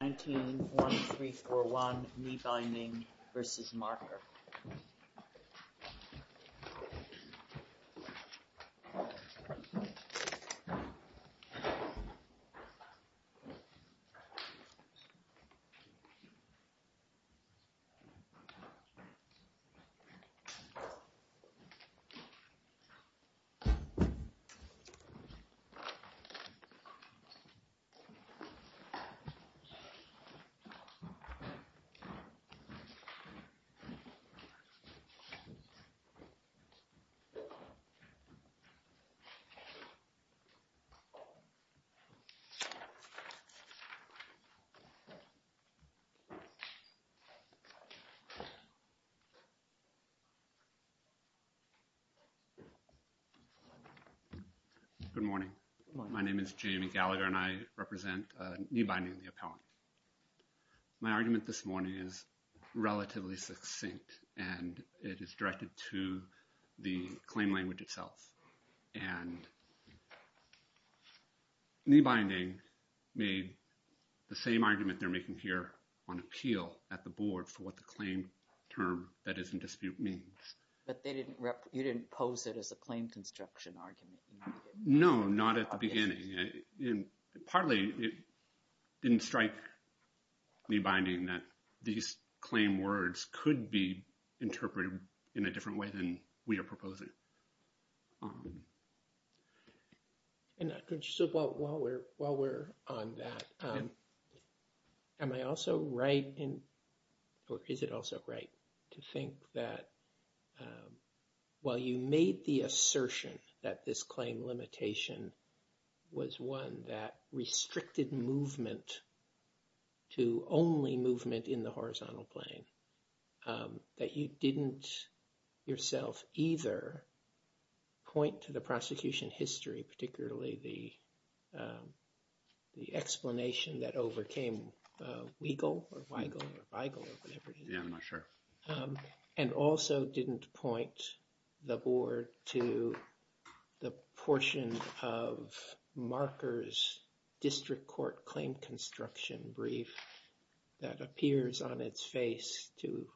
19-1341 KneeBinding v. Marker Good morning, my name is Jamie Gallagher and I represent KneeBinding, the appellant. My argument this morning is relatively succinct and it is directed to the claim language itself. And KneeBinding made the same argument they're making here on appeal at the board for what the claim term that is in dispute means. But you didn't pose it as a claim construction argument? No, not at the beginning. And partly it didn't strike KneeBinding that these claim words could be interpreted in a different way than we are proposing. And while we're on that, am I also right in, or is it also right to think that while you made the assertion that this claim limitation was one that restricted movement to only movement in the horizontal plane, that you didn't yourself either point to the prosecution history, particularly the explanation that overcame Weigel or Weigel or Weigel or whatever it is. Yeah, I'm not sure. And also didn't point the board to the portion of Marker's district court claim construction brief that appears on its face to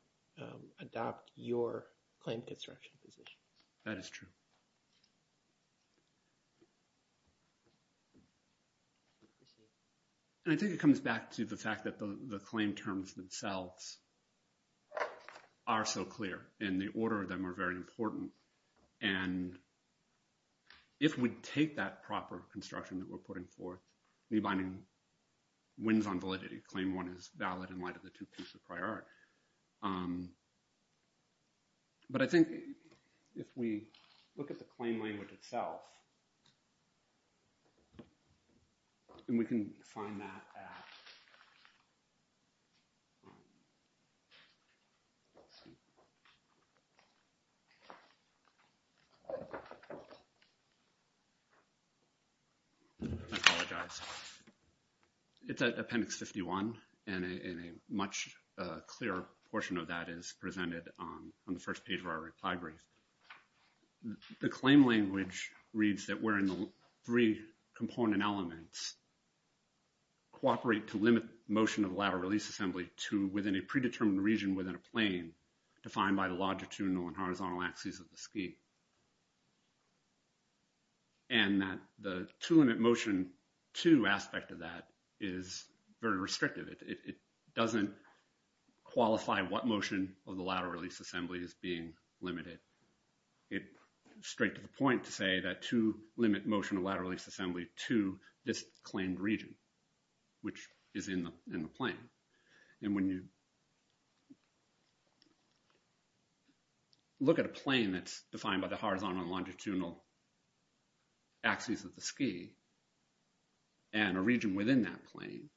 adopt your claim construction position. That is true. And I think it comes back to the fact that the claim terms themselves are so clear and the order of them are very important. And if we take that proper construction that we're putting forth, KneeBinding wins on validity. Claim one is valid in light of the two pieces of prior art. But I think if we look at the claim language itself, and we can find that at, I apologize. It's at appendix 51 and a much clearer portion of that is presented on the first page of our reply brief. The claim language reads that we're in the three component elements cooperate to limit motion of the lateral release assembly to within a predetermined region within a plane defined by the longitudinal and horizontal axes of the ski. And that the two limit motion to aspect of that is very restrictive. It doesn't qualify what motion of the lateral release assembly is being limited. It straight to the point to say that to limit motion of lateral release assembly to this claimed region, which is in the plane. And when you look at a plane that's defined by the horizontal and longitudinal axes of the ski, and a region within that plane,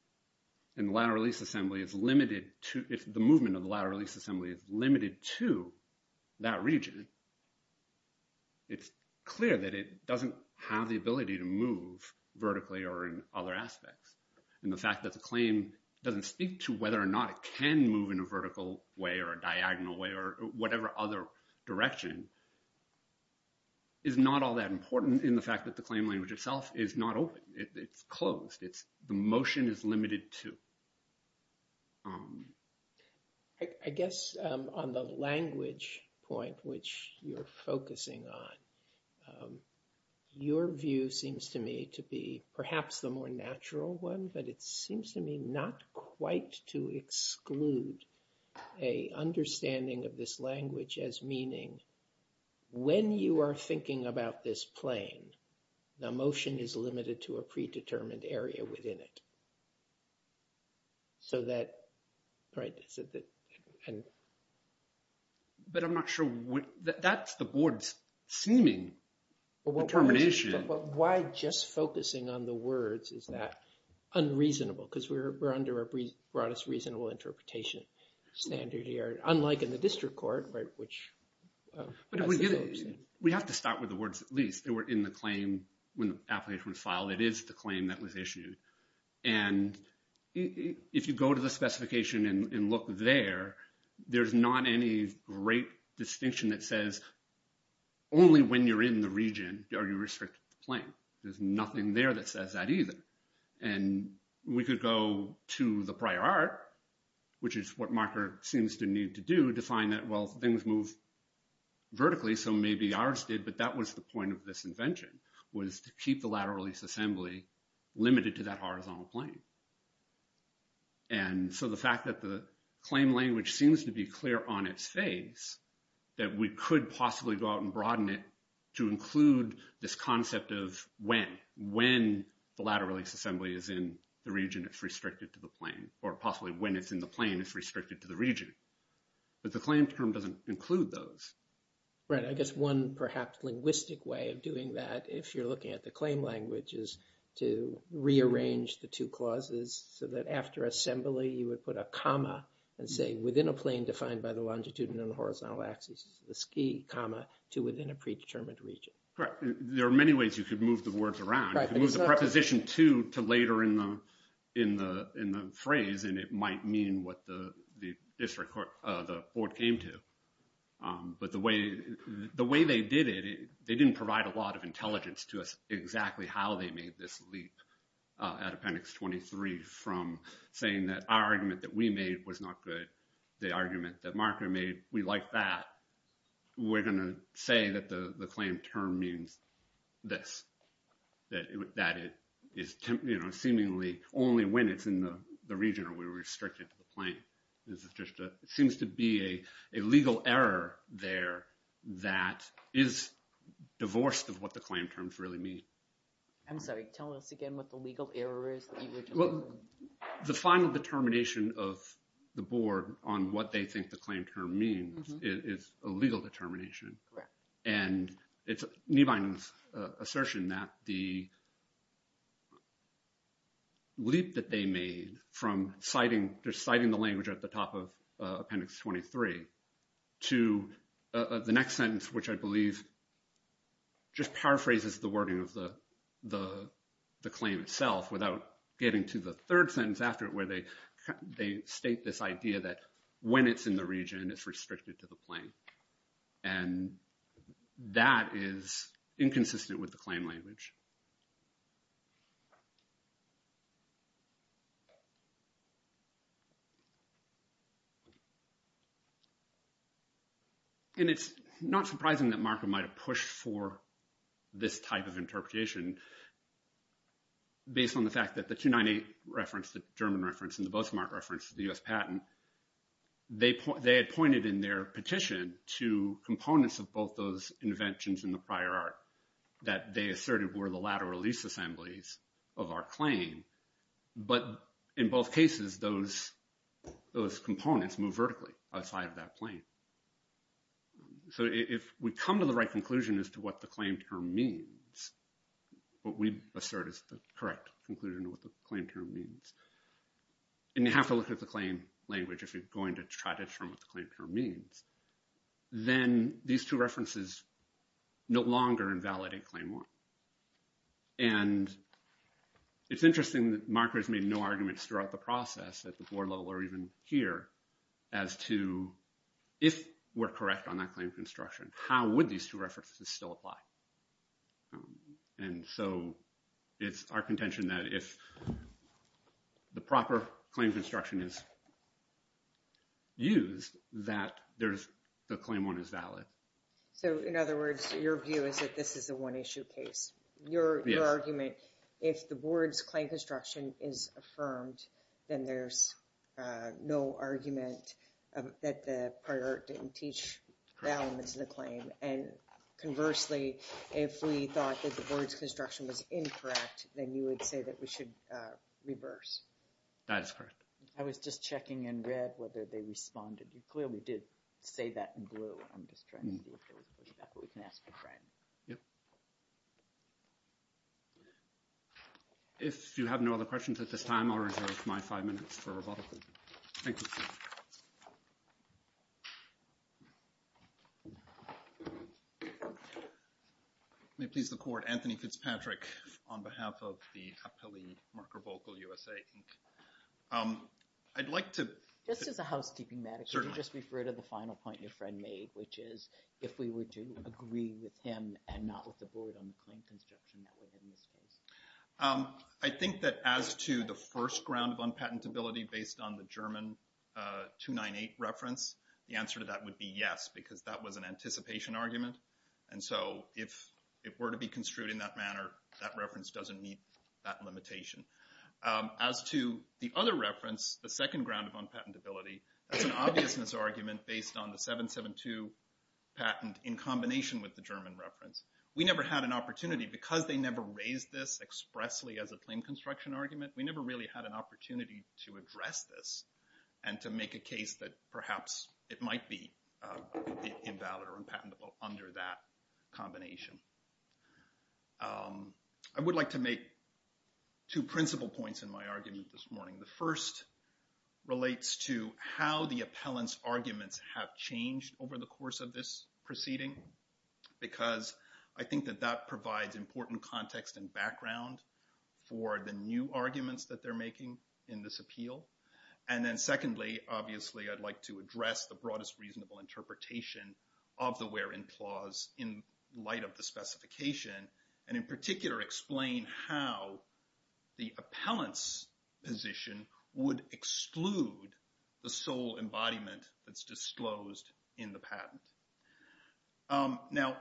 and the lateral release assembly is limited to, if the movement of the lateral release assembly is limited to that region, it's clear that it doesn't have the ability to move vertically or in other aspects. And the fact that the claim doesn't speak to whether or not it can move in a vertical way or a diagonal way or whatever other direction is not all that important in the fact that the claim language itself is not open. It's closed. It's the motion is limited to. I guess, on the language point which you're focusing on your view seems to me to be perhaps the more natural one, but it seems to me not quite to exclude a understanding of this language as meaning. When you are thinking about this plane, the motion is limited to a predetermined area within it. So that right. But I'm not sure what that's the board's seeming determination. Why just focusing on the words is that unreasonable because we're under a broadest reasonable interpretation standard here, unlike in the district court, which we have to start with the words, at least they were in the claim. When the application was filed, it is the claim that was issued. And if you go to the specification and look there, there's not any great distinction that says, only when you're in the region, are you restricted to plane, there's nothing there that says that either. And we could go to the prior art, which is what marker seems to need to do to find that. Well, things move vertically. So maybe ours did. But that was the point of this invention was to keep the lateral release assembly limited to that horizontal plane. And so the fact that the claim language seems to be clear on its face, that we could possibly go out and broaden it to include this concept of when when the lateral release assembly is in the region, it's restricted to the plane or possibly when it's in the plane, it's restricted to the region. But the claim term doesn't include those. Right. I guess one perhaps linguistic way of doing that, if you're looking at the claim languages to rearrange the two clauses so that after assembly, you would put a comma and say within a plane defined by the longitude and horizontal axis, the ski comma to within a predetermined region. There are many ways you could move the words around, move the preposition to to later in the in the in the phrase, and it might mean what the district court, the board came to. But the way the way they did it, they didn't provide a lot of intelligence to us exactly how they made this leap at appendix 23 from saying that our argument that we made was not good. The argument that marker made. We like that. We're going to say that the claim term means this. That is, you know, seemingly only when it's in the region where we restricted the plane is just seems to be a legal error there that is divorced of what the claim terms really mean. I'm sorry. Tell us again what the legal error is. The final determination of the board on what they think the claim term means is a legal determination. And it's a new bindings assertion that the leap that they made from citing deciding the language at the top of appendix 23 to the next sentence, which I believe just paraphrases the wording of the, the, the claim itself without getting to the third sentence after it, where they, they state this idea that when it's in the region, it's restricted to the plane. And that is inconsistent with the claim language. And it's not surprising that market might have pushed for this type of interpretation. Based on the fact that the 298 reference the German reference in the book smart reference to the US patent. They, they had pointed in their petition to components of both those inventions in the prior art that they asserted were the lateral lease assemblies of our claim. But in both cases, those, those components move vertically outside of that plane. So if we come to the right conclusion as to what the claim term means. What we assert is the correct conclusion to what the claim term means. And you have to look at the claim language if you're going to try to determine what the claim term means. Then, these two references, no longer invalidate claim one. And it's interesting that markers made no arguments throughout the process at the board level or even here. As to if we're correct on that claim construction, how would these two references still apply? And so it's our contention that if the proper claim construction is used, that there's the claim one is valid. So, in other words, your view is that this is a one issue case, your argument. If the board's claim construction is affirmed, then there's no argument that the prior didn't teach the elements of the claim. And conversely, if we thought that the board's construction was incorrect, then you would say that we should reverse. That is correct. I was just checking in red whether they responded. You clearly did say that in blue. I'm just trying to see if there was a pushback, but we can ask a friend. Yep. If you have no other questions at this time, I'll reserve my five minutes for rebuttal. Thank you. Thank you. May it please the court. Anthony Fitzpatrick on behalf of the Appellee Marker Vocal USA, Inc. I'd like to— Just as a housekeeping matter, could you just refer to the final point your friend made, which is if we were to agree with him and not with the board on the claim construction that would have missed us? I think that as to the first ground of unpatentability based on the German 298 reference, the answer to that would be yes, because that was an anticipation argument. And so if it were to be construed in that manner, that reference doesn't meet that limitation. As to the other reference, the second ground of unpatentability, that's an obvious misargument based on the 772 patent in combination with the German reference. We never had an opportunity because they never raised this expressly as a claim construction argument. We never really had an opportunity to address this and to make a case that perhaps it might be invalid or unpatentable under that combination. I would like to make two principal points in my argument this morning. The first relates to how the appellant's arguments have changed over the course of this proceeding, because I think that that provides important context and background for the new arguments that they're making in this appeal. And then secondly, obviously, I'd like to address the broadest reasonable interpretation of the where in clause in light of the specification. And in particular, explain how the appellant's position would exclude the sole embodiment that's disclosed in the patent. Now,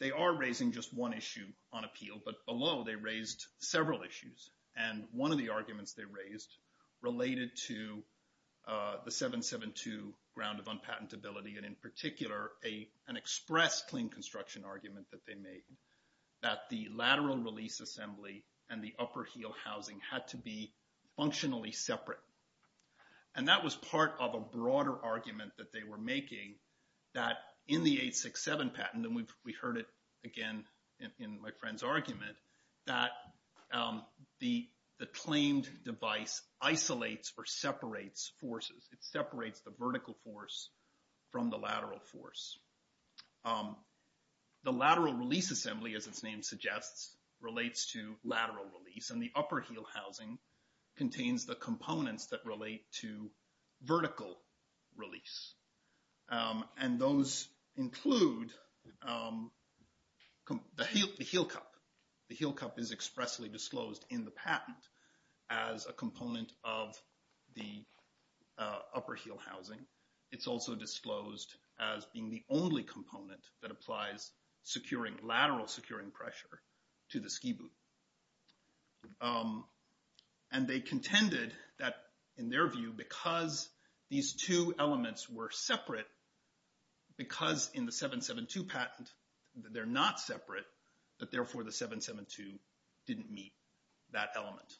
they are raising just one issue on appeal, but below they raised several issues. And one of the arguments they raised related to the 772 ground of unpatentability, and in particular, an express claim construction argument that they made. That the lateral release assembly and the upper heel housing had to be functionally separate. And that was part of a broader argument that they were making that in the 867 patent, and we heard it again in my friend's argument, that the claimed device isolates or separates forces. It separates the vertical force from the lateral force. The lateral release assembly, as its name suggests, relates to lateral release, and the upper heel housing contains the components that relate to vertical release. And those include the heel cup. The heel cup is expressly disclosed in the patent as a component of the upper heel housing. It's also disclosed as being the only component that applies securing, lateral securing pressure to the ski boot. And they contended that in their view, because these two elements were separate, because in the 772 patent, they're not separate, but therefore the 772 didn't meet that element.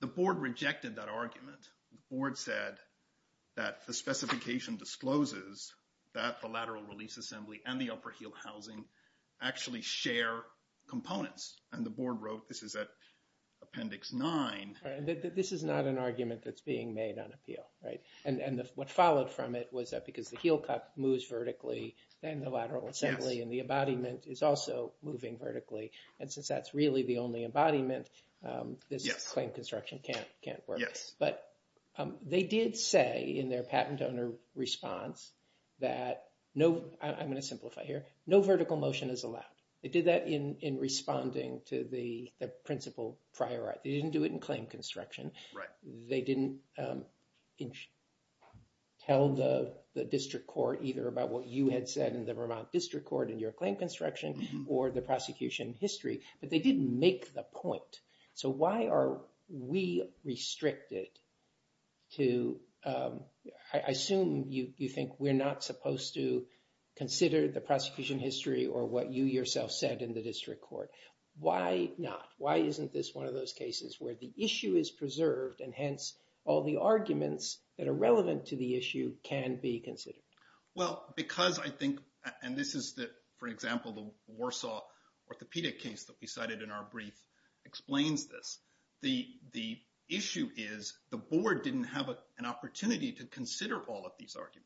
The board rejected that argument. The board said that the specification discloses that the lateral release assembly and the upper heel housing actually share components. And the board wrote, this is at appendix 9. This is not an argument that's being made on appeal, right? And what followed from it was that because the heel cup moves vertically, then the lateral assembly and the embodiment is also moving vertically. And since that's really the only embodiment, this claim construction can't work. But they did say in their patent owner response that no, I'm going to simplify here, no vertical motion is allowed. They did that in responding to the principal prior art. They didn't do it in claim construction. They didn't tell the district court either about what you had said in the Vermont district court in your claim construction or the prosecution history. But they didn't make the point. So why are we restricted to, I assume you think we're not supposed to consider the prosecution history or what you yourself said in the district court. Why not? This is one of those cases where the issue is preserved and hence all the arguments that are relevant to the issue can be considered. Well, because I think, and this is the, for example, the Warsaw orthopedic case that we cited in our brief explains this. The issue is the board didn't have an opportunity to consider all of these arguments.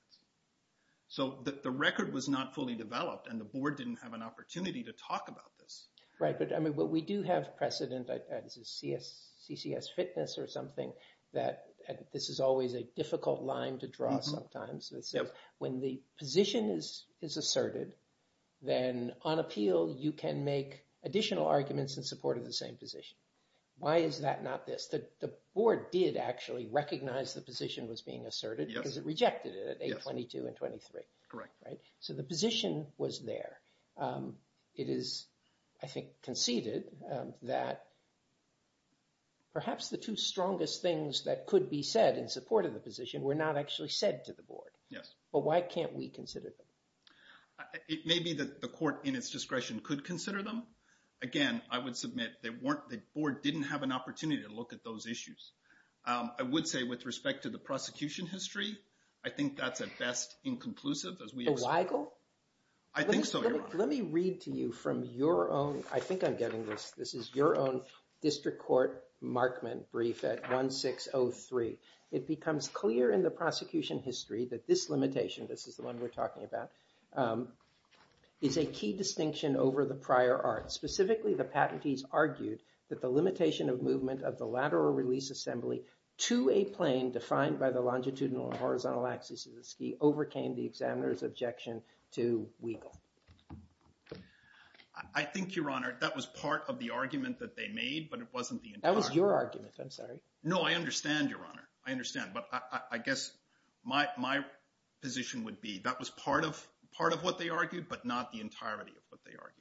So the record was not fully developed and the board didn't have an opportunity to talk about this. Right, but we do have precedent, this is CCS fitness or something, that this is always a difficult line to draw sometimes. When the position is asserted, then on appeal you can make additional arguments in support of the same position. Why is that not this? The board did actually recognize the position was being asserted because it rejected it at 822 and 823. Correct. So the position was there. It is, I think, conceded that perhaps the two strongest things that could be said in support of the position were not actually said to the board. Yes. But why can't we consider them? It may be that the court in its discretion could consider them. Again, I would submit that the board didn't have an opportunity to look at those issues. I would say with respect to the prosecution history, I think that's at best inconclusive. Illegal? I think so, Your Honor. Let me read to you from your own, I think I'm getting this, this is your own district court markment brief at 1603. It becomes clear in the prosecution history that this limitation, this is the one we're talking about, is a key distinction over the prior art. Specifically, the patentees argued that the limitation of movement of the lateral release assembly to a plane defined by the longitudinal and horizontal axis of the ski overcame the examiner's objection to Weigel. I think, Your Honor, that was part of the argument that they made, but it wasn't the entire. That was your argument, I'm sorry. No, I understand, Your Honor. I understand. But I guess my position would be that was part of what they argued, but not the entirety of what they argued.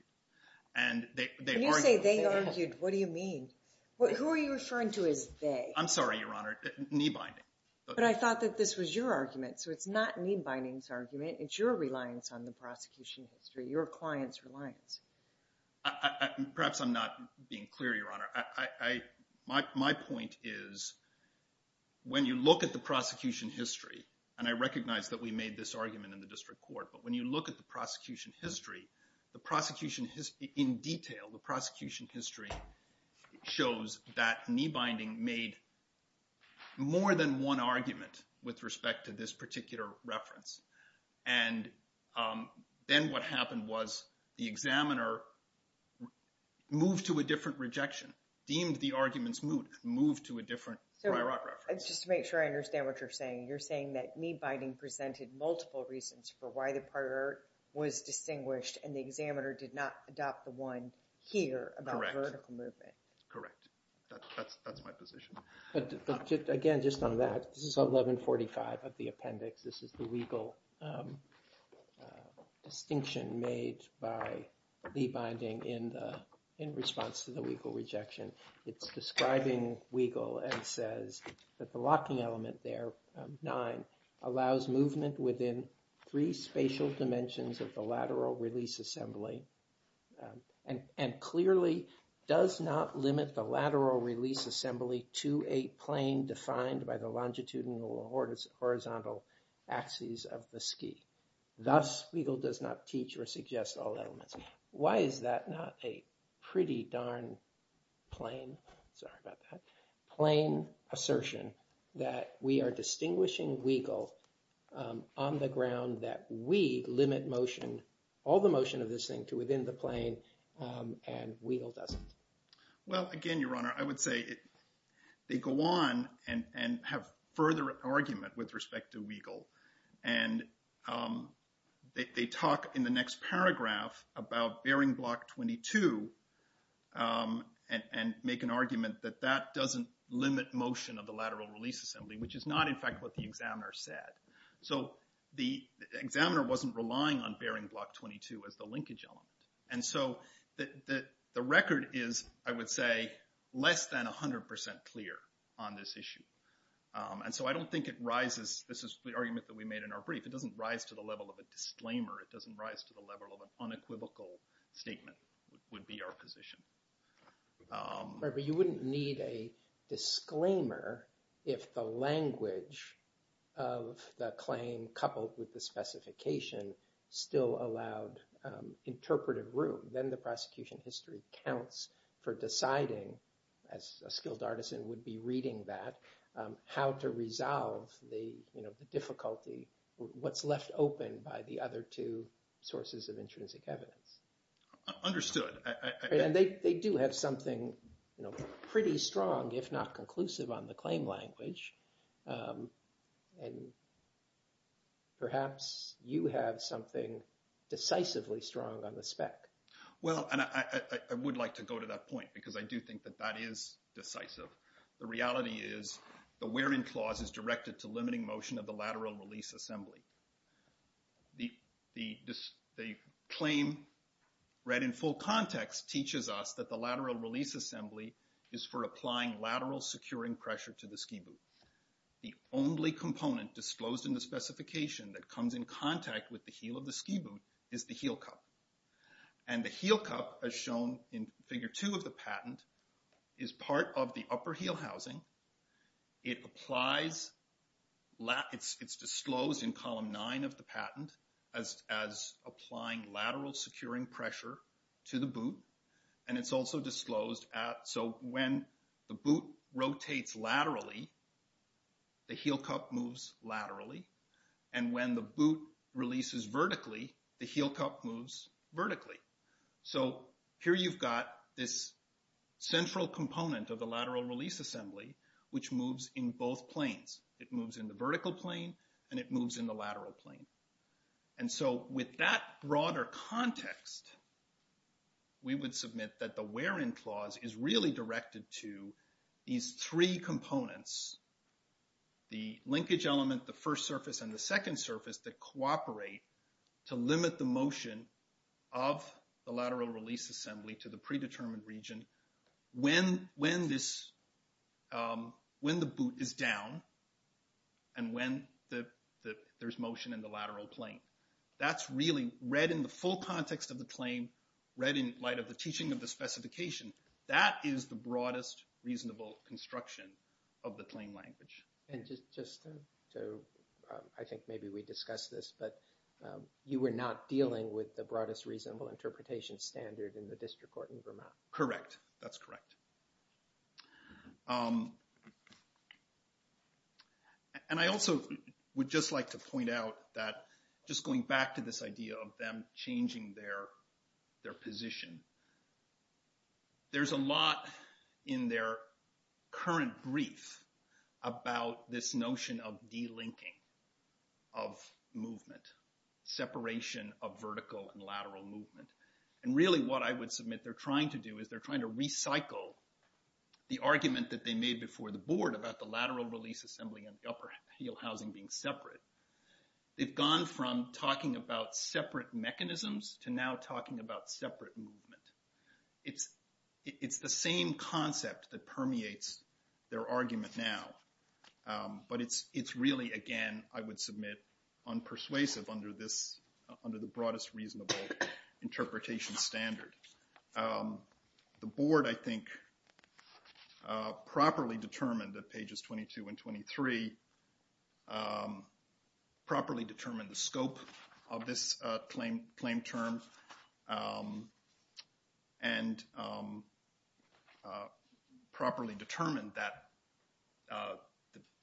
And they argued. When you say they argued, what do you mean? Who are you referring to as they? I'm sorry, Your Honor. Knee binding. But I thought that this was your argument, so it's not knee binding's argument. It's your reliance on the prosecution history, your client's reliance. Perhaps I'm not being clear, Your Honor. My point is when you look at the prosecution history, and I recognize that we made this argument in the district court, but when you look at the prosecution history, the prosecution history in detail, the prosecution history shows that knee binding made more than one argument with respect to this particular reference. And then what happened was the examiner moved to a different rejection, deemed the argument's moot, and moved to a different Breyerot reference. Just to make sure I understand what you're saying, you're saying that knee binding presented multiple reasons for why the part was distinguished and the examiner did not adopt the one here about vertical movement. Correct. That's my position. Again, just on that, this is 1145 of the appendix. This is the legal distinction made by knee binding in response to the legal rejection. It's describing Weigel and says that the locking element there, nine, allows movement within three spatial dimensions of the lateral release assembly and clearly does not limit the lateral release assembly to a plane defined by the longitudinal or horizontal axes of the ski. Thus, Weigel does not teach or suggest all elements. Why is that not a pretty darn plane, sorry about that, plane assertion that we are distinguishing Weigel on the ground that we limit motion, all the motion of this thing to within the plane and Weigel doesn't? Well, again, Your Honor, I would say they go on and have further argument with respect to Weigel. And they talk in the next paragraph about bearing block 22 and make an argument that that doesn't limit motion of the lateral release assembly, which is not in fact what the examiner said. So the examiner wasn't relying on bearing block 22 as the linkage element. And so the record is, I would say, less than 100% clear on this issue. And so I don't think it rises. This is the argument that we made in our brief. It doesn't rise to the level of a disclaimer. It doesn't rise to the level of an unequivocal statement would be our position. But you wouldn't need a disclaimer if the language of the claim coupled with the specification still allowed interpretive room. Then the prosecution history counts for deciding, as a skilled artisan would be reading that, how to resolve the difficulty, what's left open by the other two sources of intrinsic evidence. Understood. And they do have something pretty strong, if not conclusive on the claim language. And perhaps you have something decisively strong on the spec. Well, and I would like to go to that point because I do think that that is decisive. The reality is the wearing clause is directed to limiting motion of the lateral release assembly. The claim read in full context teaches us that the lateral release assembly is for applying lateral securing pressure to the ski boot. The only component disclosed in the specification that comes in contact with the heel of the ski boot is the heel cup. And the heel cup, as shown in figure two of the patent, is part of the upper heel housing. It's disclosed in column nine of the patent as applying lateral securing pressure to the boot. And it's also disclosed at, so when the boot rotates laterally, the heel cup moves laterally. And when the boot releases vertically, the heel cup moves vertically. So here you've got this central component of the lateral release assembly, which moves in both planes. It moves in the vertical plane and it moves in the lateral plane. And so with that broader context, we would submit that the wearing clause is really directed to these three components. The linkage element, the first surface, and the second surface that cooperate to limit the motion of the lateral release assembly to the predetermined region when the boot is down and when there's motion in the lateral plane. That's really read in the full context of the claim, read in light of the teaching of the specification. That is the broadest reasonable construction of the claim language. And just to, I think maybe we discussed this, but you were not dealing with the broadest reasonable interpretation standard in the district court in Vermont. Correct. That's correct. And I also would just like to point out that just going back to this idea of them changing their position, there's a lot in their current brief about this notion of delinking of movement, separation of vertical and lateral movement. And really what I would submit they're trying to do is they're trying to recycle the argument that they made before the board about the lateral release assembly and the upper heel housing being separate. They've gone from talking about separate mechanisms to now talking about separate movement. It's the same concept that permeates their argument now, but it's really, again, I would submit, unpersuasive under the broadest reasonable interpretation standard. The board, I think, properly determined that pages 22 and 23, properly determined the scope of this claim term and properly determined that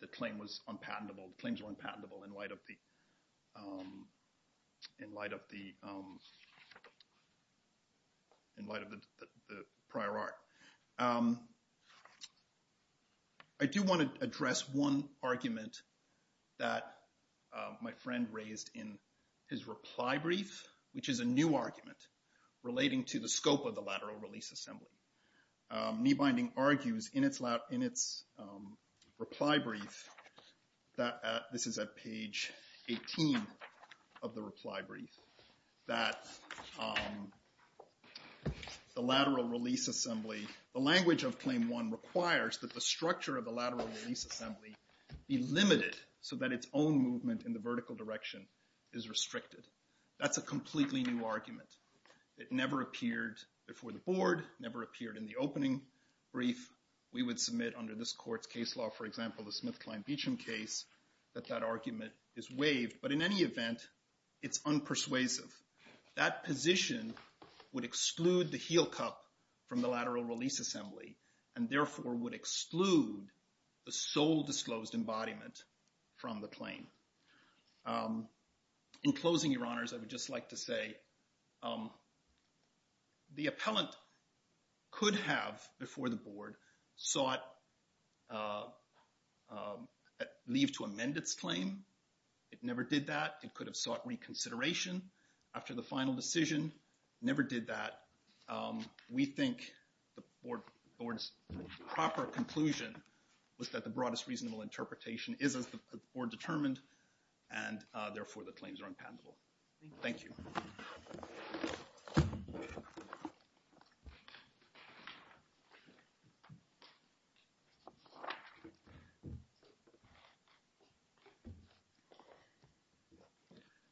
the claim was unpatentable, claims were unpatentable in light of the prior art. I do want to address one argument that my friend raised in his reply brief, which is a new argument relating to the scope of the lateral release assembly. Knee-binding argues in its reply brief, this is at page 18 of the reply brief, that the lateral release assembly, the language of claim one requires that the structure of the lateral release assembly be limited so that its own movement in the vertical direction is restricted. That's a completely new argument. It never appeared before the board, never appeared in the opening brief. We would submit under this court's case law, for example, the Smith-Klein-Beacham case, that that argument is waived. But in any event, it's unpersuasive. That position would exclude the heel cup from the lateral release assembly and therefore would exclude the sole disclosed embodiment from the claim. In closing, your honors, I would just like to say the appellant could have, before the board, sought leave to amend its claim. It never did that. It could have sought reconsideration after the final decision. Never did that. We think the board's proper conclusion was that the broadest reasonable interpretation is as the board determined and therefore the claims are unpatentable. Thank you.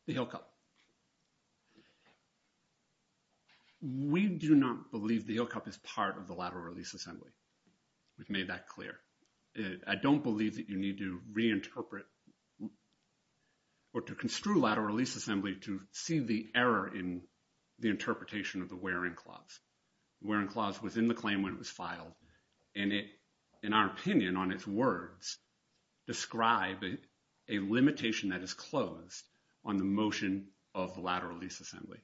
The heel cup. We do not believe the heel cup is part of the lateral release assembly. We've made that clear. I don't believe that you need to reinterpret or to construe lateral release assembly to see the error in the interpretation of the wearing clause. The wearing clause was in the claim when it was filed, and it, in our opinion, on its words, described a limitation that is closed on the motion of lateral release assembly.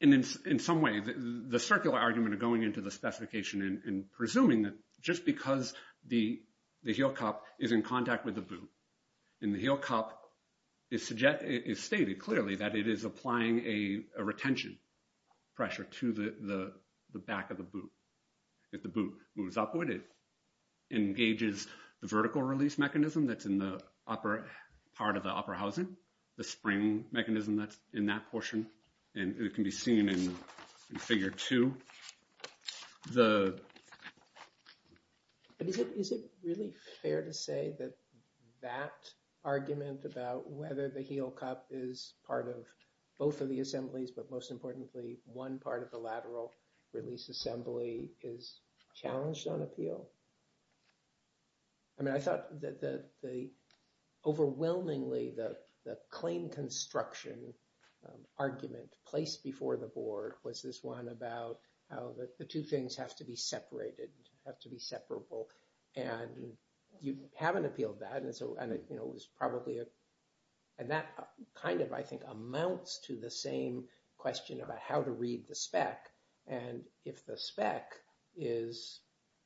And in some way, the circular argument of going into the specification and presuming that just because the heel cup is in contact with the boot and the heel cup is stated clearly that it is applying a retention pressure to the back of the boot. If the boot moves upward, it engages the vertical release mechanism that's in the upper part of the upper housing, the spring mechanism that's in that portion, and it can be seen in figure two. The. Is it really fair to say that that argument about whether the heel cup is part of both of the assemblies, but most importantly, one part of the lateral release assembly is challenged on appeal? I mean, I thought that overwhelmingly the claim construction argument placed before the board was this one about how the two things have to be separated, have to be separable. And you haven't appealed that. And so it was probably and that kind of, I think, amounts to the same question about how to read the spec. And if the spec is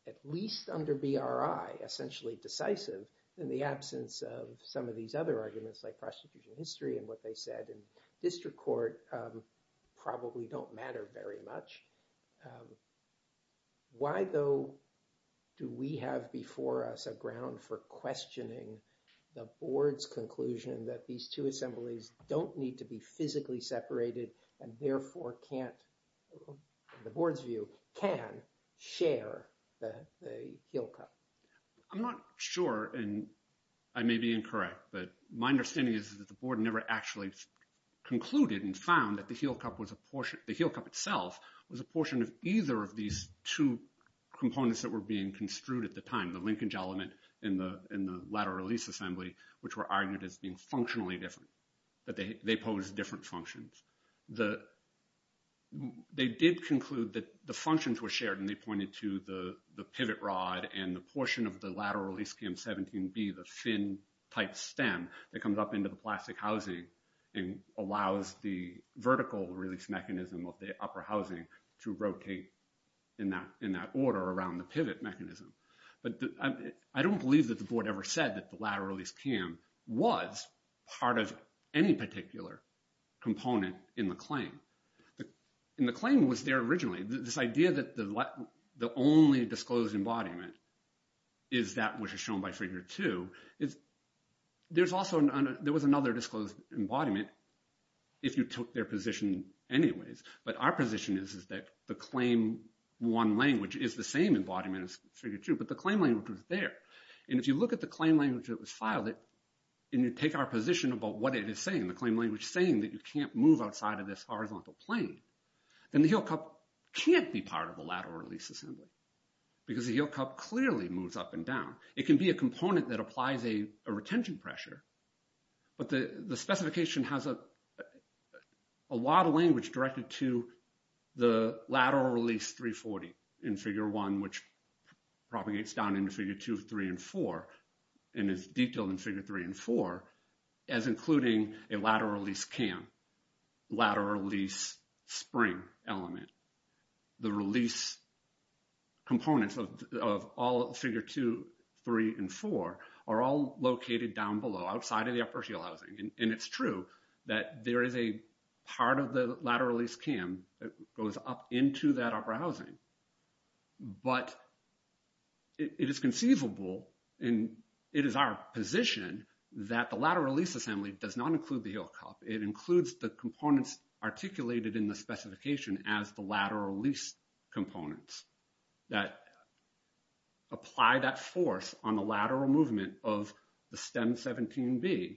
at least under BRI, essentially decisive in the absence of some of these other arguments like and what they said in district court probably don't matter very much. Why, though, do we have before us a ground for questioning the board's conclusion that these two assemblies don't need to be physically separated and therefore can't, in the board's view, can share the heel cup? I'm not sure, and I may be incorrect, but my understanding is that the board never actually concluded and found that the heel cup was a portion, the heel cup itself was a portion of either of these two components that were being construed at the time, the linkage element and the lateral release assembly, which were argued as being functionally different, that they pose different functions. They did conclude that the functions were shared and they pointed to the pivot rod and the portion of the lateral release cam 17B, the thin type stem that comes up into the plastic housing and allows the vertical release mechanism of the upper housing to rotate in that order around the pivot mechanism. But I don't believe that the board ever said that the lateral release cam was part of any particular component in the claim. And the claim was there originally. This idea that the only disclosed embodiment is that which is shown by figure two, there was another disclosed embodiment if you took their position anyways. But our position is that the claim one language is the same embodiment as figure two, but the claim language was there. And if you look at the claim language that was filed and you take our position about what it is saying, the claim language saying that you can't move outside of this horizontal plane, then the heel cup can't be part of the lateral release assembly. Because the heel cup clearly moves up and down. It can be a component that applies a retention pressure. But the specification has a lot of language directed to the lateral release 340 in figure one, which propagates down into figure two, three, and four and is detailed in figure three and four as including a lateral release cam, lateral release spring element. The release components of all figure two, three, and four are all located down below outside of the upper heel housing. And it's true that there is a part of the lateral release cam that goes up into that upper housing. But it is conceivable and it is our position that the lateral release assembly does not include the heel cup. It includes the components articulated in the specification as the lateral release components that apply that force on the lateral movement of the stem 17B.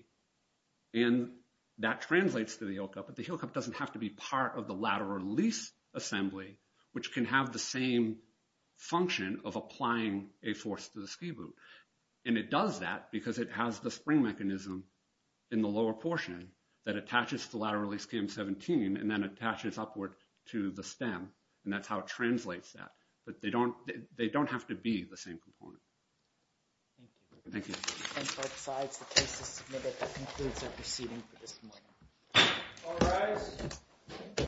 And that translates to the heel cup, but the heel cup doesn't have to be part of the lateral release assembly, which can have the same function of applying a force to the ski boot. And it does that because it has the spring mechanism in the lower portion that attaches to the lateral release cam 17 and then attaches upward to the stem. And that's how it translates that. But they don't have to be the same component. Thank you. Thank you. And so besides the cases submitted, that concludes our proceeding for this morning. All rise.